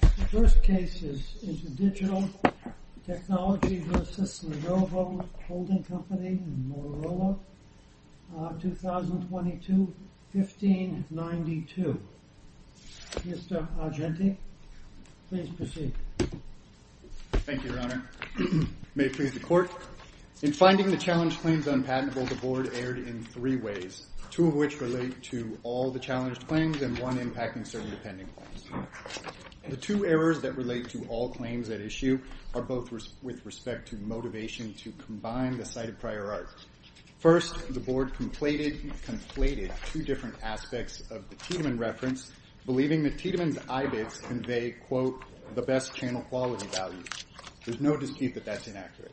The first case is InterDigital Technology v. Lenovo Holding Company, Motorola, 2022-15-92. Mr. Argenti, please proceed. Thank you, Your Honor. May it please the Court. In finding the challenge claims unpatentable, the Board erred in three ways, two of which relate to all the challenged claims and one impacting certain pending claims. The two errors that relate to all claims at issue are both with respect to motivation to combine the cited prior arts. First, the Board conflated two different aspects of the Tiedemann reference, believing that Tiedemann's eye bits convey, quote, the best channel quality value. There's no dispute that that's inaccurate.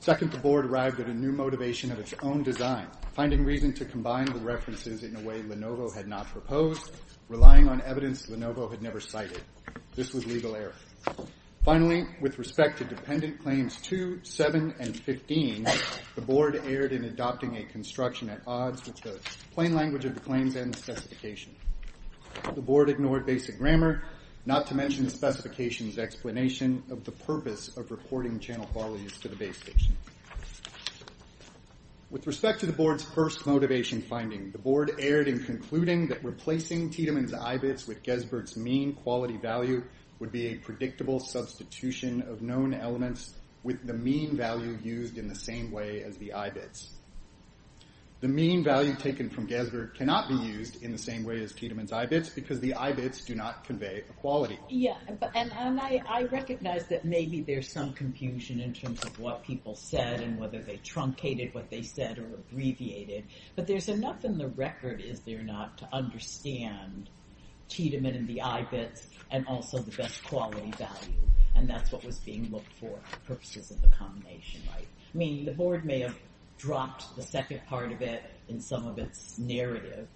Second, the Board arrived at a new motivation of its own design, finding reason to combine the references in a way Lenovo had not proposed, relying on evidence Lenovo had never cited. This was legal error. Finally, with respect to dependent claims 2, 7, and 15, the Board erred in adopting a construction at odds with the plain language of the claims and the specification. The Board ignored basic grammar, not to mention the specification's explanation of the purpose of reporting channel qualities to the base station. With respect to the Board's first motivation finding, the Board erred in concluding that replacing Tiedemann's eye bits with Gesbert's mean quality value would be a predictable substitution of known elements with the mean value used in the same way as the eye bits. The mean value taken from Gesbert cannot be used in the same way as Tiedemann's eye bits, because the eye bits do not convey a quality. Yeah, and I recognize that maybe there's some confusion in terms of what people said and whether they truncated what they said or abbreviated, but there's enough in the record, is there not, to understand Tiedemann and the eye bits and also the best quality value, and that's what was being looked for, the purposes of the combination, right? I mean, the Board may have dropped the second part of it in some of its narrative,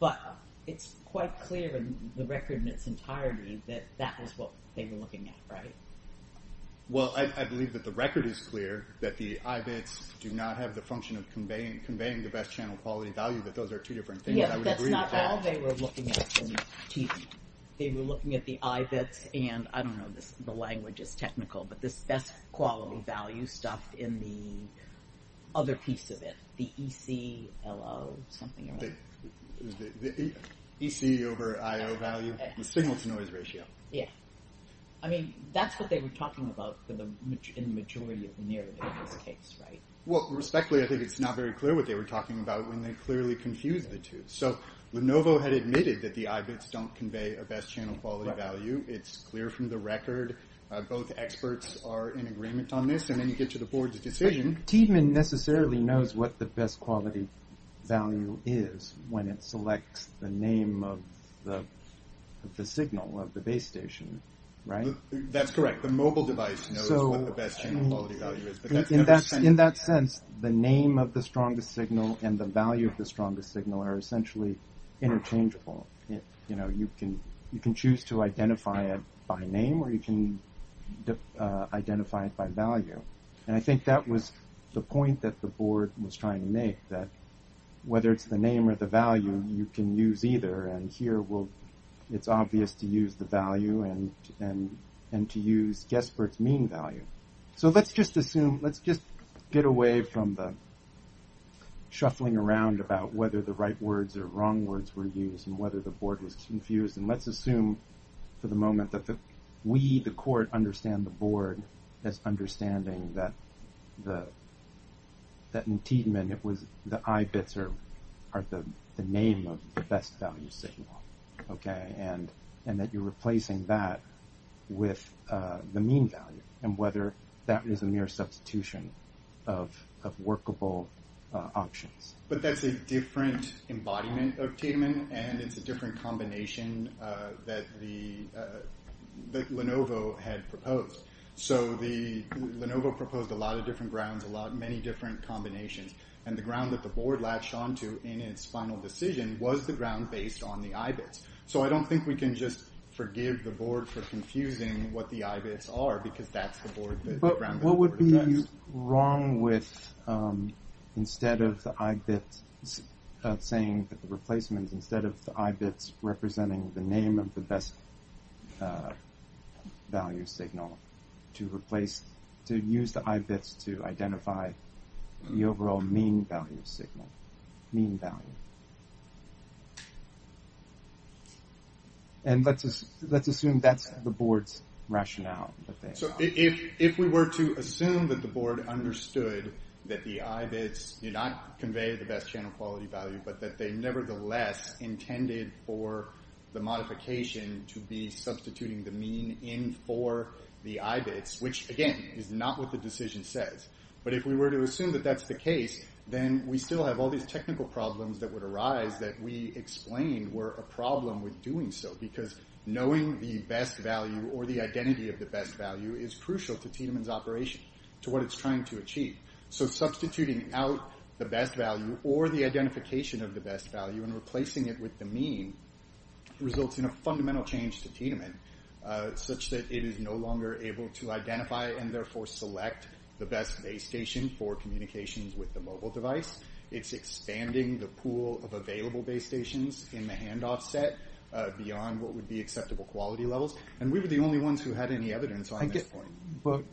but it's quite clear in the record in its entirety that that was what they were looking at, right? Well, I believe that the record is clear, that the eye bits do not have the function of conveying the best channel quality value, that those are two different things, I would agree with that. Yeah, that's not all they were looking at. They were looking at the eye bits and, I don't know, the language is technical, but this best quality value stuff in the other piece of it, the ECLO, something like that. The EC over IO value, the signal-to-noise ratio. Yeah, I mean, that's what they were talking about in the majority of the narrative in this case, right? Well, respectfully, I think it's not very clear what they were talking about when they clearly confused the two. So, Lenovo had admitted that the eye bits don't convey a best channel quality value, it's clear from the record, both experts are in agreement on this, and then you get to the Board's decision. Tiedemann necessarily knows what the best quality value is when it selects the name of the signal of the base station, right? That's correct. The mobile device knows what the best channel quality value is. In that sense, the name of the strongest signal and the value of the strongest signal are essentially interchangeable. You can choose to identify it by name or you can identify it by value. And I think that was the point that the Board was trying to make, that whether it's the name or the value, you can use either. And here, it's obvious to use the value and to use Guesspert's mean value. So, let's just assume, let's just get away from the shuffling around about whether the right words or wrong words were used and whether the Board was confused and let's assume for the moment that we, the Court, understand the Board as understanding that in Tiedemann, the I bits are the name of the best value signal, and that you're replacing that with the mean value, and whether that is a mere substitution of workable options. But that's a different embodiment of Tiedemann, and it's a different combination that Lenovo had proposed. So, Lenovo proposed a lot of different grounds, many different combinations, and the ground that the Board latched onto in its final decision was the ground based on the I bits. So, I don't think we can just forgive the Board for confusing what the I bits are, because that's the ground that the Board addressed. But what would be wrong with, instead of the I bits, saying that the replacements, instead of the I bits, representing the name of the best value signal, to replace, to use the I bits to identify the overall mean value signal, mean value. And let's assume that's the Board's rationale. So, if we were to assume that the Board understood that the I bits did not convey the best channel quality value, but that they nevertheless intended for the modification to be substituting the mean in for the I bits, which, again, is not what the decision says. But if we were to assume that that's the case, then we still have all these technical problems that would arise that we explained were a problem with doing so, because knowing the best value, or the identity of the best value, So, substituting out the best value, or the identification of the best value, and replacing it with the mean, results in a fundamental change to Tiananmen, such that it is no longer able to identify, and therefore select, the best base station for communications with the mobile device. It's expanding the pool of available base stations in the handoff set, beyond what would be acceptable quality levels. And we were the only ones who had any evidence on this point. But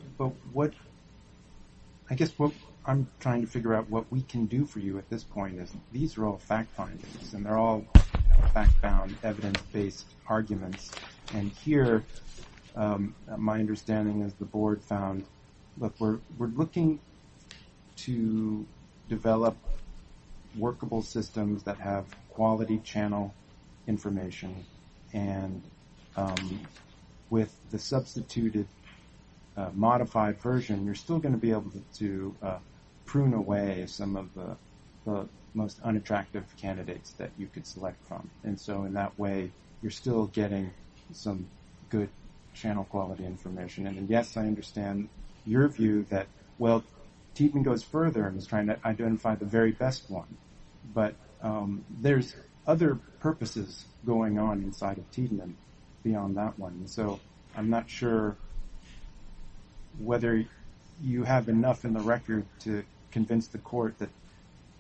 what, I guess what I'm trying to figure out, what we can do for you at this point, is these are all fact findings, and they're all fact-bound, evidence-based arguments. And here, my understanding is the Board found, that we're looking to develop workable systems that have quality channel information, and with the substituted modified version, you're still going to be able to prune away some of the most unattractive candidates that you could select from. And so, in that way, you're still getting some good channel quality information. And yes, I understand your view that, well, Tietman goes further, and is trying to identify the very best one. But there's other purposes going on inside of Tietman beyond that one. So, I'm not sure whether you have enough in the record to convince the Court that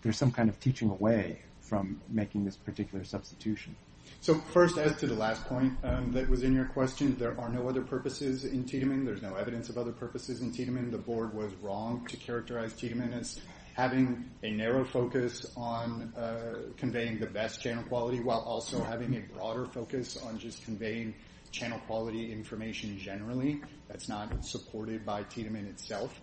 there's some kind of teaching away from making this particular substitution. So, first, as to the last point that was in your question, there are no other purposes in Tietman. There's no evidence of other purposes in Tietman. The Board was wrong to characterize Tietman as having a narrow focus on conveying the best channel quality, while also having a broader focus on just conveying channel quality information generally. That's not supported by Tietman itself.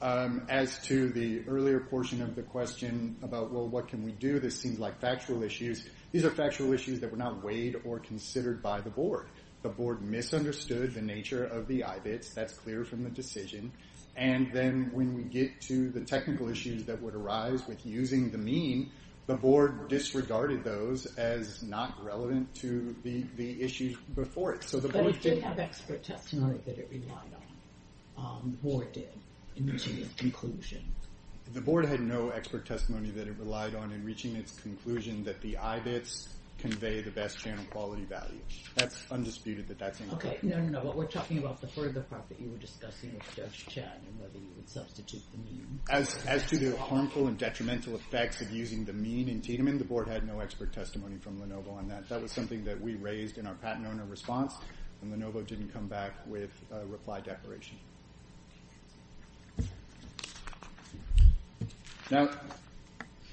As to the earlier portion of the question about, well, what can we do? This seems like factual issues. These are factual issues that were not weighed or considered by the Board. The Board misunderstood the nature of the IBITS. That's clear from the decision. And then when we get to the technical issues that would arise with using the mean, the Board disregarded those as not relevant to the issues before it. But it did have expert testimony that it relied on. The Board did, in reaching its conclusion. The Board had no expert testimony that it relied on in reaching its conclusion that the IBITS convey the best channel quality value. That's undisputed that that's incorrect. No, we're talking about the further part that you were discussing with Judge Chan and whether you would substitute the mean. As to the harmful and detrimental effects of using the mean in Tietman, the Board had no expert testimony from Lenovo on that. That was something that we raised in our patent owner response. And Lenovo didn't come back with a reply declaration. Now,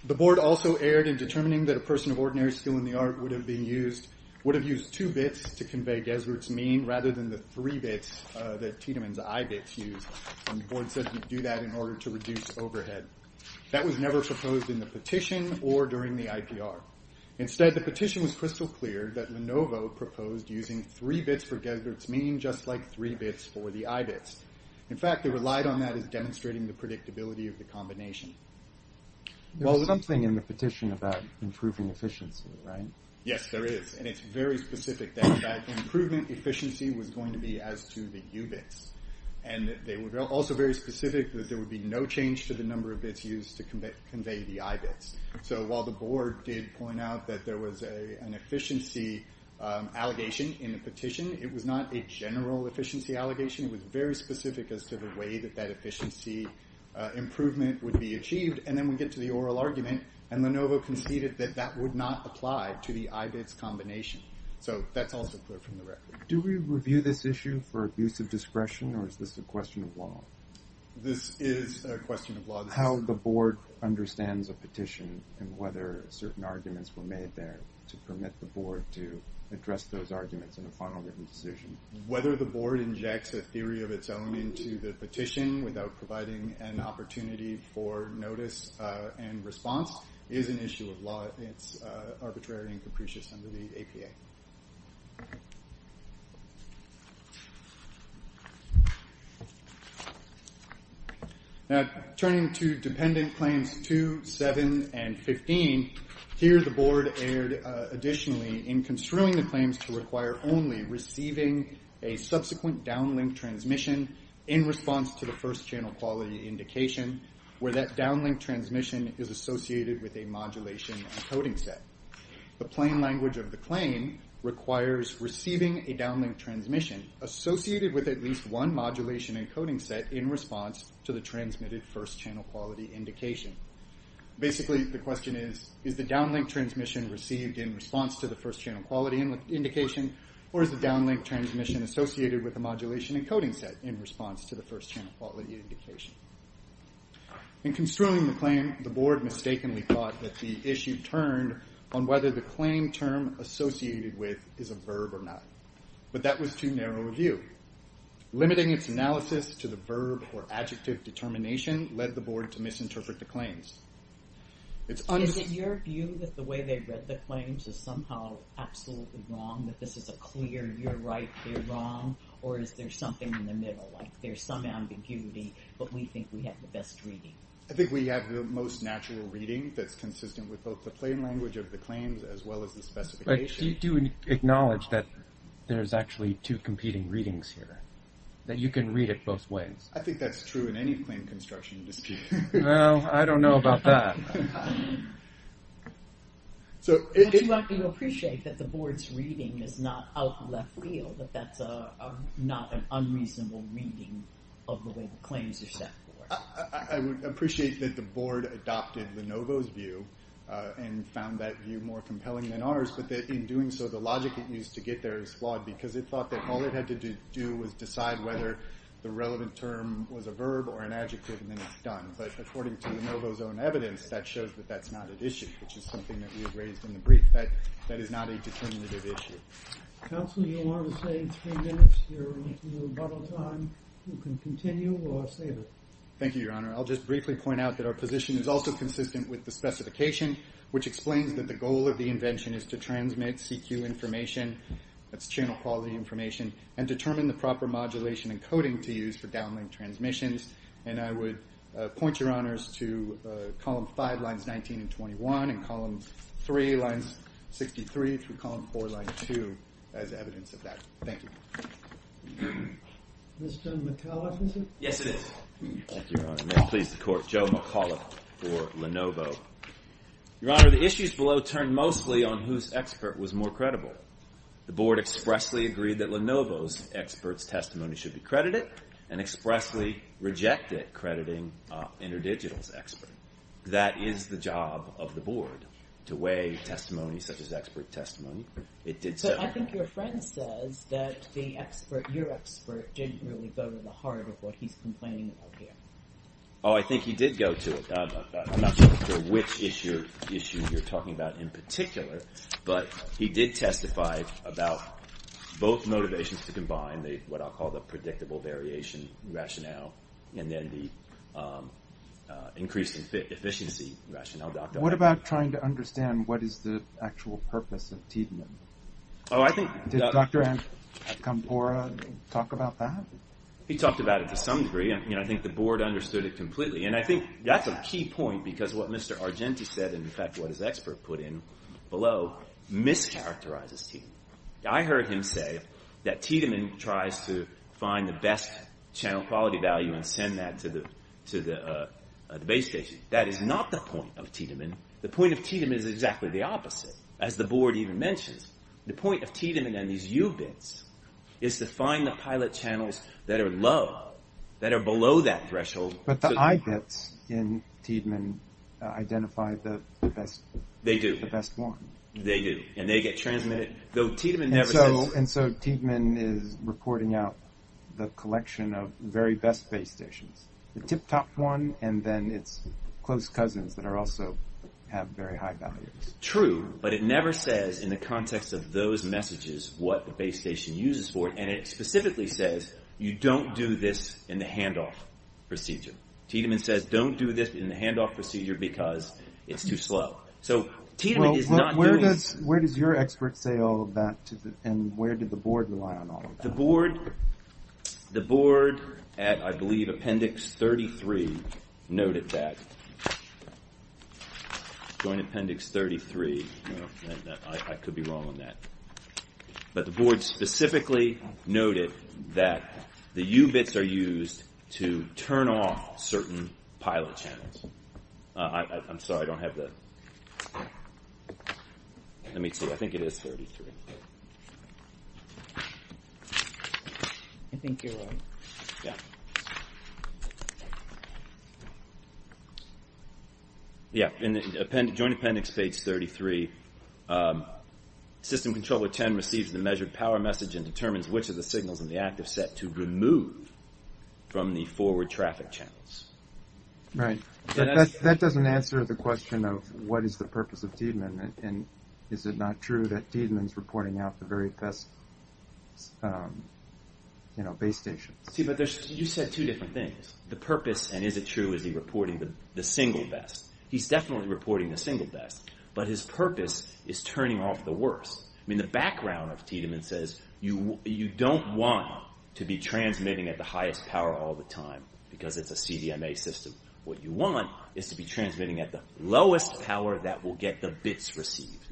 the Board also erred in determining that a person of ordinary skill in the art would have used two bits to convey Gesbert's mean rather than the three bits that Tietman's IBITS used. And the Board said we'd do that in order to reduce overhead. That was never proposed in the petition or during the IPR. Instead, the petition was crystal clear that Lenovo proposed using three bits for Gesbert's mean just like three bits for the IBITS. In fact, they relied on that as demonstrating the predictability of the combination. There's something in the petition about improving efficiency, right? Yes, there is, and it's very specific that that improvement efficiency was going to be as to the UBITS. And they were also very specific that there would be no change to the number of bits used to convey the IBITS. So while the Board did point out that there was an efficiency allegation in the petition, it was not a general efficiency allegation. It was very specific as to the way that that efficiency improvement would be achieved. And then we get to the oral argument, and Lenovo conceded that that would not apply to the IBITS combination. So that's also clear from the record. Do we review this issue for abuse of discretion, or is this a question of law? This is a question of law. How the Board understands a petition and whether certain arguments were made there to permit the Board to address those arguments in a final written decision. Whether the Board injects a theory of its own into the petition without providing an opportunity for notice and response is an issue of law. It's arbitrary and capricious under the APA. Now, turning to Dependent Claims 2, 7, and 15, here the Board erred additionally in construing the claims to require only receiving a subsequent downlink transmission in response to the first channel quality indication, where that downlink transmission is associated with a modulation encoding set. The plain language of the claim requires receiving a downlink transmission associated with at least one modulation encoding set in response to the transmitted first channel quality indication. Basically, the question is, is the downlink transmission received in response to the first channel quality indication, or is the downlink transmission associated with a modulation encoding set in response to the first channel quality indication? In construing the claim, the Board mistakenly thought that the issue turned on whether the claim term associated with is a verb or not, but that was too narrow a view. Limiting its analysis to the verb or adjective determination led the Board to misinterpret the claims. Is it your view that the way they read the claims is somehow absolutely wrong, that this is a clear, you're right, you're wrong, or is there something in the middle, like there's some ambiguity, but we think we have the best reading? I think we have the most natural reading that's consistent with both the plain language of the claims as well as the specification. Do you acknowledge that there's actually two competing readings here, that you can read it both ways? I think that's true in any claim construction dispute. Well, I don't know about that. Would you appreciate that the Board's reading is not out of left field, that that's not an unreasonable reading of the way the claims are set forth? I would appreciate that the Board adopted Lenovo's view and found that view more compelling than ours, but in doing so, the logic it used to get there is flawed because it thought that all it had to do was decide whether the relevant term was a verb or an adjective, and then it's done. But according to Lenovo's own evidence, that shows that that's not an issue, which is something that we have raised in the brief. That is not a determinative issue. Counsel, do you want to say three minutes or a little bottle of time? You can continue, or I'll save it. Thank you, Your Honor. I'll just briefly point out that our position is also consistent with the specification, which explains that the goal of the invention is to transmit CQ information, that's channel quality information, and determine the proper modulation and coding to use for downlink transmissions. And I would point Your Honors to column 5, lines 19 and 21, and column 3, lines 63, through column 4, line 2, as evidence of that. Thank you. Mr. McAuliffe, is it? Yes, it is. Thank you, Your Honor. May it please the Court. Joe McAuliffe for Lenovo. Your Honor, the issues below turn mostly on whose expert was more credible. The Board expressly agreed that Lenovo's expert's testimony should be credited and expressly rejected crediting InterDigital's expert. That is the job of the Board, to weigh testimony such as expert testimony. It did so... But I think your friend says that the expert, your expert, didn't really go to the heart of what he's complaining about here. Oh, I think he did go to it. I'm not sure which issue you're talking about in particular, but he did testify about both motivations to combine what I'll call the predictable variation rationale and then the increased efficiency rationale. What about trying to understand what is the actual purpose of Tiedemann? Oh, I think... Did Dr. Ancampora talk about that? He talked about it to some degree, and I think the Board understood it completely. And I think that's a key point, because what Mr. Argenti said, and in fact what his expert put in below, mischaracterizes Tiedemann. I heard him say that Tiedemann tries to find the best channel quality value and send that to the base station. That is not the point of Tiedemann. The point of Tiedemann is exactly the opposite, as the Board even mentions. The point of Tiedemann and these U bits is to find the pilot channels that are low, that are below that threshold... But the I bits in Tiedemann identify the best one. They do. And they get transmitted. Though Tiedemann never says... And so Tiedemann is reporting out the collection of very best base stations. The tip-top one, and then its close cousins that also have very high values. True, but it never says, in the context of those messages, what the base station uses for it. And it specifically says, you don't do this in the hand-off procedure. Tiedemann says, don't do this in the hand-off procedure, because it's too slow. So Tiedemann is not doing... Where does your expert say all of that? And where did the Board rely on all of that? The Board at, I believe, Appendix 33, noted that. Joint Appendix 33. I could be wrong on that. But the Board specifically noted that the U-bits are used to turn off certain pilot channels. I'm sorry, I don't have the... Let me see, I think it is 33. I think you're right. Yeah, in the Joint Appendix page 33, System Controller 10 receives the measured power message and determines which of the signals in the active set to remove from the forward traffic channels. Right. That doesn't answer the question of what is the purpose of Tiedemann. And is it not true that Tiedemann is reporting out the very best base stations? See, but you said two different things. The purpose, and is it true, is he reporting the single best? He's definitely reporting the single best. But his purpose is turning off the worst. I mean, the background of Tiedemann says you don't want to be transmitting at the highest power all the time, because it's a CDMA system. What you want is to be transmitting at the lowest power that will get the bits received.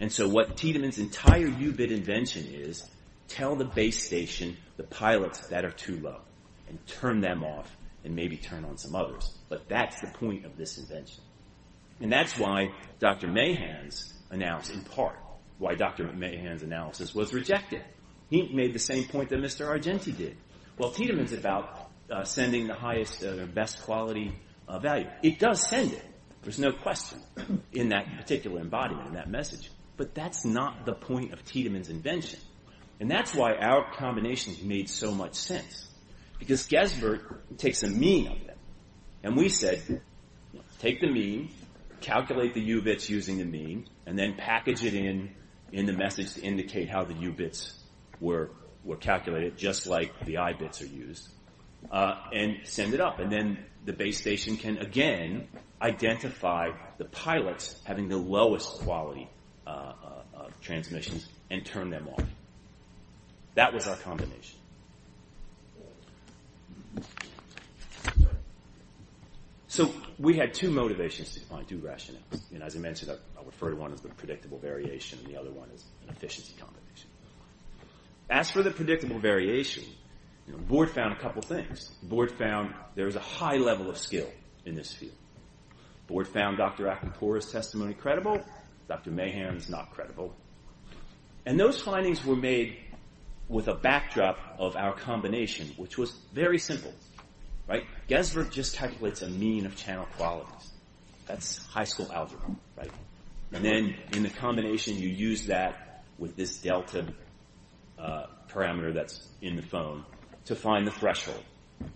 And so what Tiedemann's entire U-bit invention is, tell the base station the pilots that are too low and turn them off and maybe turn on some others. But that's the point of this invention. And that's why Dr. Mahan's analysis, in part, why Dr. Mahan's analysis was rejected. He made the same point that Mr. Argenti did. Well, Tiedemann's about sending the highest or best quality value. It does send it. There's no question in that particular embodiment, in that message. But that's not the point of Tiedemann's invention. And that's why our combination made so much sense. Because Gesbert takes a mean and we said, take the mean, calculate the U-bits using the mean, and then package it in, in the message to indicate how the U-bits were calculated, just like the I-bits are used, and send it up. And then the base station can, again, identify the pilots having the lowest quality transmissions and turn them off. That was our combination. So we had two motivations to find two rationals. As I mentioned, I referred to one as the predictable variation, and the other one as an efficiency combination. As for the predictable variation, the board found a couple things. The board found there's a high level of skill in this field. The board found Dr. Acropora's testimony credible, Dr. Mahan's not credible. And those findings were made with a backdrop of our combination, which was very simple. Gesbert just calculates a mean of channel qualities. That's high school algebra. And then, in the combination, you use that with this delta parameter that's in the phone to find the threshold.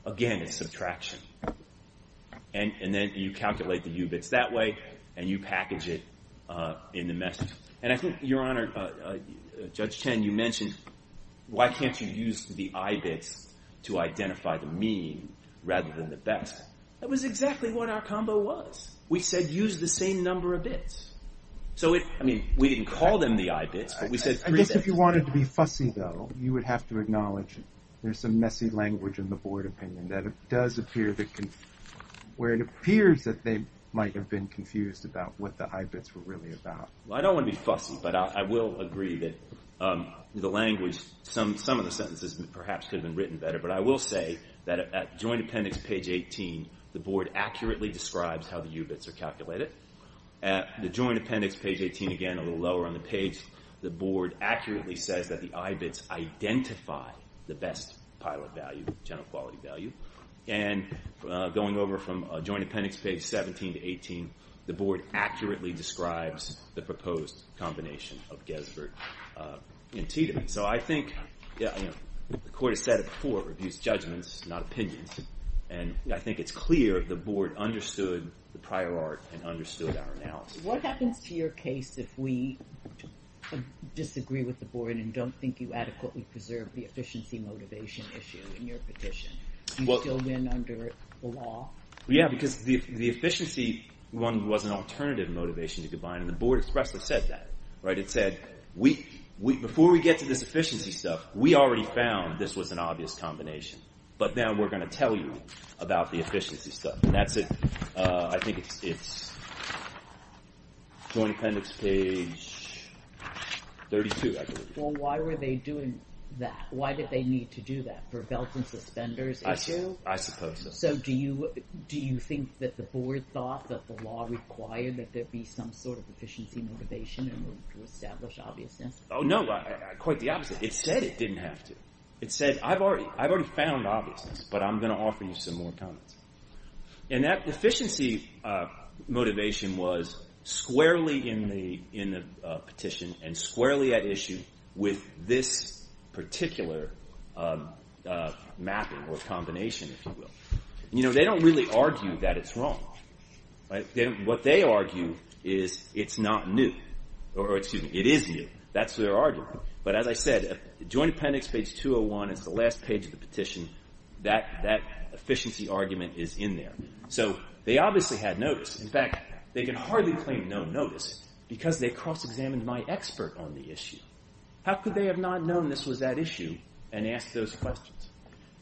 Again, it's subtraction. And then you calculate the U-bits that way, and you package it in the message. And I think, Your Honor, Judge Chen, you mentioned why can't you use the I-bits to identify the mean rather than the best? That was exactly what our combo was. We said use the same number of bits. So, I mean, we didn't call them the I-bits, but we said three bits. I guess if you wanted to be fussy, though, you would have to acknowledge there's some messy language in the board opinion where it appears that they might have been confused about what the I-bits were really about. agree that the language, some of the sentences, perhaps could have been written better, but I will say that at Joint Appendix, page 18, the board accurately describes how the U-bits are calculated. At the Joint Appendix, page 18, again, a little lower on the page, the board accurately says that the I-bits identify the best pilot value, general quality value. And going over from Joint Appendix, page 17 to 18, the board accurately describes the proposed combination of Gesvert and Tita. So I think, the court has said it before, it reviews judgments, not opinions, and I think it's clear the board understood the prior art and understood our analysis. What happens to your case if we disagree with the board and don't think you adequately preserve the efficiency motivation issue in your petition? Do you still win under the law? Yeah, because the efficiency was an alternative motivation to combine, and the board expressly said that. It said, before we get to this efficiency stuff, we already found this was an obvious combination. But now we're going to tell you about the efficiency stuff. I think it's Joint Appendix, page 32, I believe. Well, why were they doing that? Why did they need to do that? For Belt and Suspenders issue? I suppose so. Do you think that the board thought that the law required that there be some sort of efficiency motivation in order to establish obviousness? Oh, no, quite the opposite. It said it didn't have to. It said, I've already found obviousness, but I'm going to offer you some more comments. And that efficiency motivation was squarely in the petition and squarely at issue with this particular mapping, or combination, if you will. You know, they don't really argue that it's wrong. What they argue is it's not new. Or, excuse me, it is new. That's their argument. But as I said, Joint Appendix, page 201, is the last page of the petition. That efficiency argument is in there. So they obviously had notice. In fact, they can hardly claim no notice because they cross-examined my expert on the issue. How could they have not known this was that issue and asked those questions?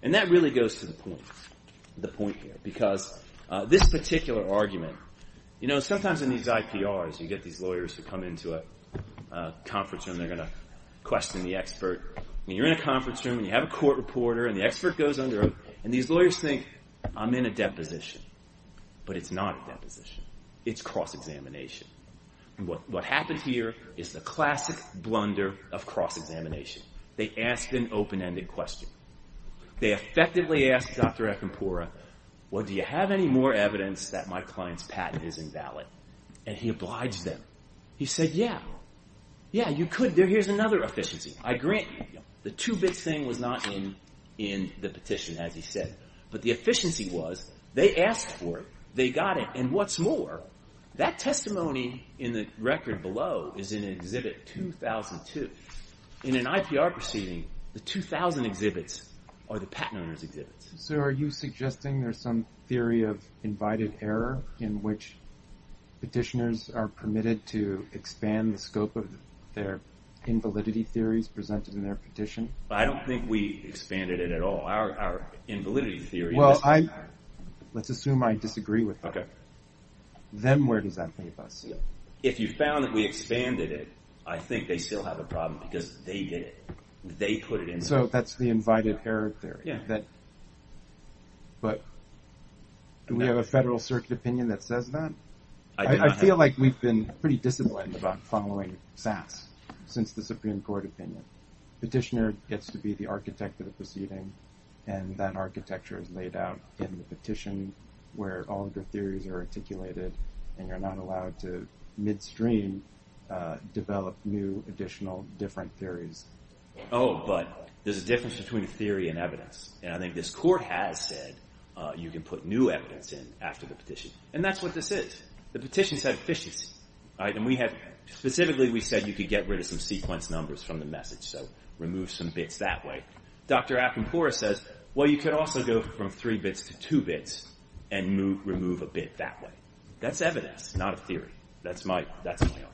And that really goes to the point here, because this particular argument, you know, sometimes in these IPRs, you get these lawyers who come into a conference room. They're going to question the expert. You're in a conference room, and you have a court reporter, and the expert goes under, and these lawyers think I'm in a deposition. But it's not a deposition. It's cross-examination. What happens here is the classic blunder of cross-examination. They ask an open-ended question. They effectively ask Dr. Akampura, do you have any more evidence that my client's patent is invalid? And he obliged them. He said, yeah. Yeah, you could. Here's another efficiency. I grant you. The two bits thing was not in the petition, as he said. But the efficiency was, they asked for it. They got it. And what's more, that testimony in the record below is in Exhibit 2002. In an IPR proceeding, the 2000 exhibits are the patent owner's exhibits. So are you suggesting there's some theory of invited error in which petitioners are permitted to expand the scope of their invalidity theories presented in their petition? I don't think we expanded it at all. Our invalidity theory... Let's assume I disagree with that. Then where does that leave us? If you found that we expanded it, I think they still have a problem because they did it. So that's the invited error theory. But do we have a Federal Circuit opinion that says that? I feel like we've been pretty disciplined about following SAS since the Supreme Court opinion. Petitioner gets to be the architect of the proceeding, and that architecture is laid out in the petition, where all of the theories are articulated, and you're not allowed to midstream develop new, additional different theories. Oh, but there's a difference between a theory and evidence. And I think this Court has said you can put new evidence in after the petition. And that's what this is. The petition said efficiency. Specifically, we said you could get rid of some sequence numbers from the message, so remove some bits that way. Dr. Akinpura says, well, you could also go from three bits to two bits and remove a bit that way. That's evidence, not a theory. That's my argument.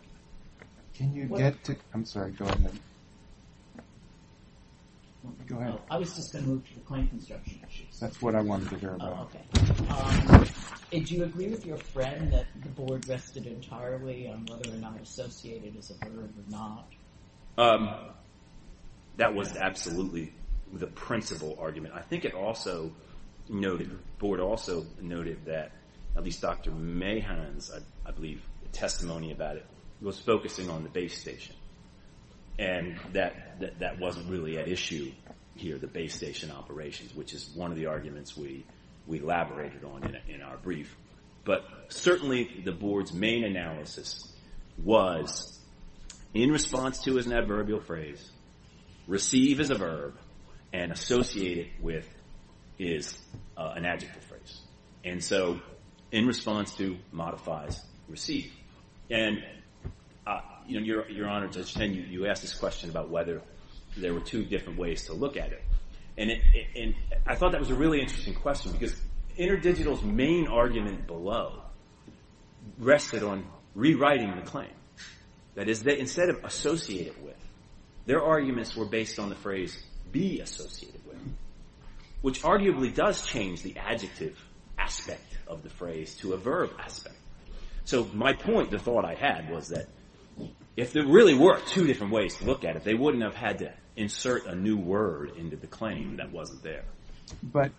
Can you get to... I'm sorry, go ahead. Go ahead. I was just going to move to the claim construction issues. That's what I wanted to hear about. Do you agree with your friend that the Board rested entirely on whether or not associated as a burden or not? That was absolutely the principal argument. I think it also noted, the Board also noted that at least Dr. Mahan's, I believe, testimony about it was focusing on the base station. And that wasn't really at issue here, the base station operations, which is one of the arguments we elaborated on in our brief. But certainly the Board's main analysis was, in response to is an adverbial phrase, receive is a verb, and associated with is an adjective phrase. And so, in response to modifies receive. And, Your Honor, Judge Chen, you asked this question about whether there were two different ways to look at it. I thought that was a really interesting question because InterDigital's main argument below rested on rewriting the claim. That is, instead of associated with, their arguments were based on the phrase be associated with, which arguably does change the adjective aspect of the phrase to a verb aspect. So, my point, the thought I had was that if there really were two different ways to look at it they wouldn't have had to insert a new word into the claim that wasn't there. But,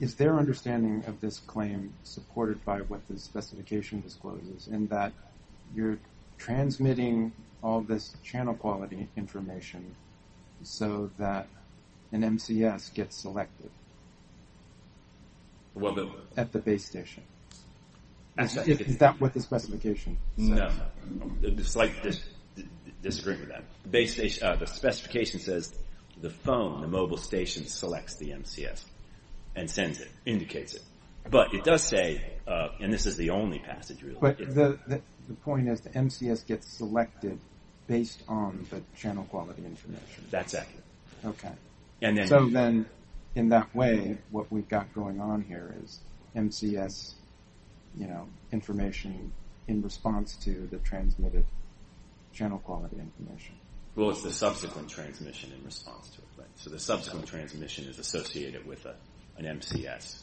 is their understanding of this claim supported by what the specification discloses in that you're transmitting all this channel quality information so that an MCS gets selected? At the base station? Is that what the specification says? No. It's like, the specification says the phone, the mobile station selects the MCS and sends it, indicates it. But, it does say, and this is the only passage rule, But, the point is the MCS gets selected based on the channel quality information. That's accurate. So then, in that way, what we've got going on here is MCS information in response to the transmitted channel quality information. Well, it's the subsequent transmission in response to it. So the subsequent transmission is associated with an MCS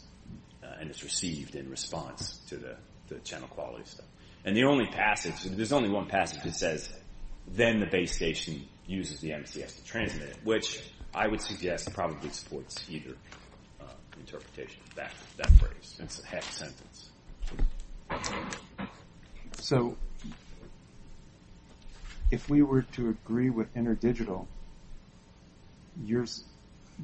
and it's received in response to the channel quality stuff. And the only passage, there's only one passage that says then the base station uses the MCS to transmit it. Which I would suggest probably supports either interpretation of that phrase. That sentence. So, if we were to agree with InterDigital,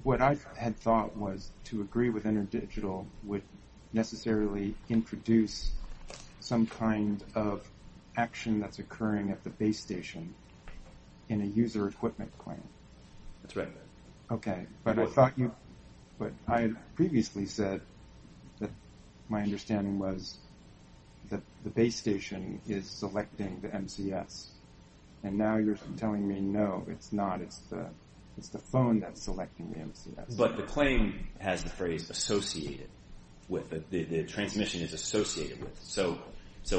what I had thought was to agree with InterDigital would necessarily introduce some kind of action that's occurring at the base station in a user equipment claim. That's right. But, I had previously said that my understanding was that the base station is selecting the MCS. And now you're telling me no, it's not. It's the phone that's selecting the MCS. But the claim has the phrase associated with the transmission is associated with. So,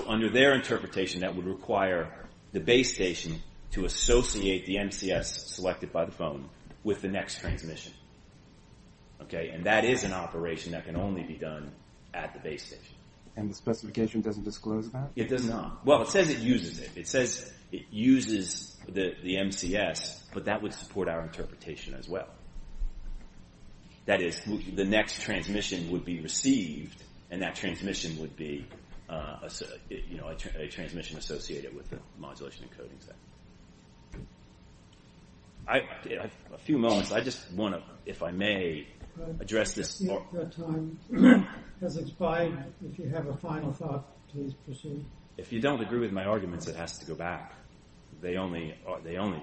under their interpretation that would require the base station to associate the MCS selected by the phone with the next transmission. And that is an operation that can only be done at the base station. And the specification doesn't disclose that? It does not. Well, it says it uses it. It says it uses the MCS, but that would support our interpretation as well. That is, the next transmission would be received and that transmission would be a transmission associated with the modulation encodings. I have a few moments. I just want to, if I may, address this. Time has expired. If you have a final thought, please proceed. If you don't agree with my arguments, it has to go back.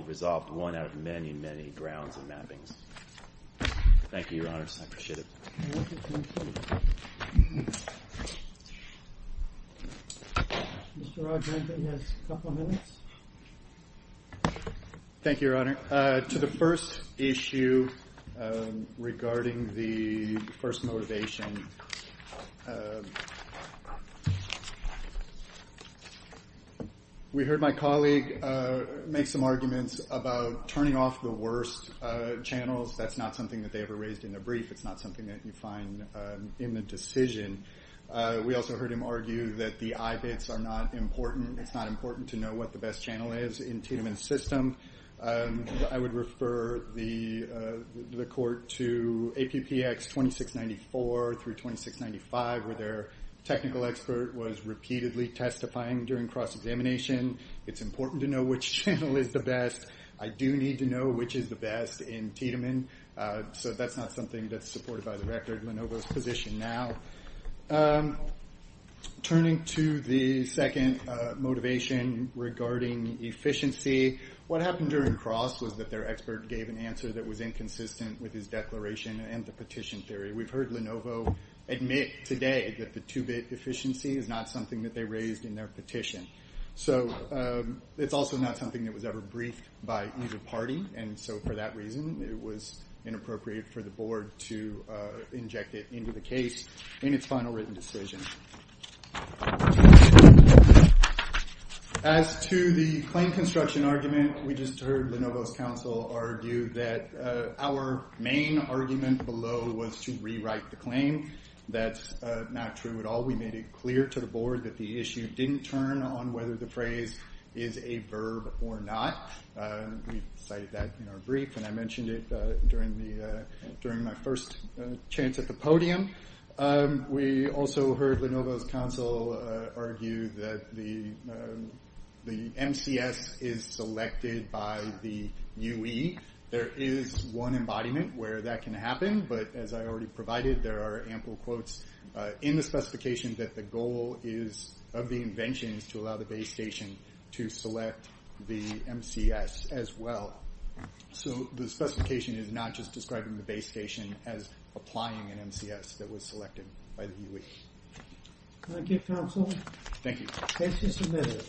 resolved one out of many, many grounds and mappings. Thank you, Your Honor. I appreciate it. Mr. Rodriguez, you have a couple of minutes. Thank you, Your Honor. To the first issue regarding the first motivation. We heard my colleague make some arguments about turning off the worst channels. That's not something that they ever raised in a brief. It's not something that you find in the decision. We also heard him argue that the I-bits are not important. It's not important to know what the best channel is in Tiedemann's system. I would refer the court to APPX 2694 through 2695, where their technical expert was repeatedly testifying during cross-examination. It's important to know which channel is the best. I do need to know which is the best in Tiedemann. That's not something that's supported by the record of Lenovo's position now. Turning to the second motivation regarding efficiency. What happened during cross was that their expert gave an answer that was inconsistent with his declaration and the petition theory. We've heard Lenovo admit today that the 2-bit efficiency is not something that they raised in their petition. It's also not something that was ever briefed by either party. For that reason, it was inappropriate for the board to inject it into the case in its final written decision. As to the claim construction argument, we just heard Lenovo's counsel argue that our main argument below was to rewrite the claim. That's not true at all. We made it clear to the board that the issue didn't turn on whether the phrase is a verb or not. We cited that in our during my first chance at the podium. We also heard Lenovo's counsel argue that the MCS is selected by the UE. There is one embodiment where that can happen but as I already provided, there are ample quotes in the specification that the goal of the invention is to allow the base station to select the MCS as well. So the specification is not just describing the base station as applying an MCS that was selected by the UE. Thank you counsel. Thank you.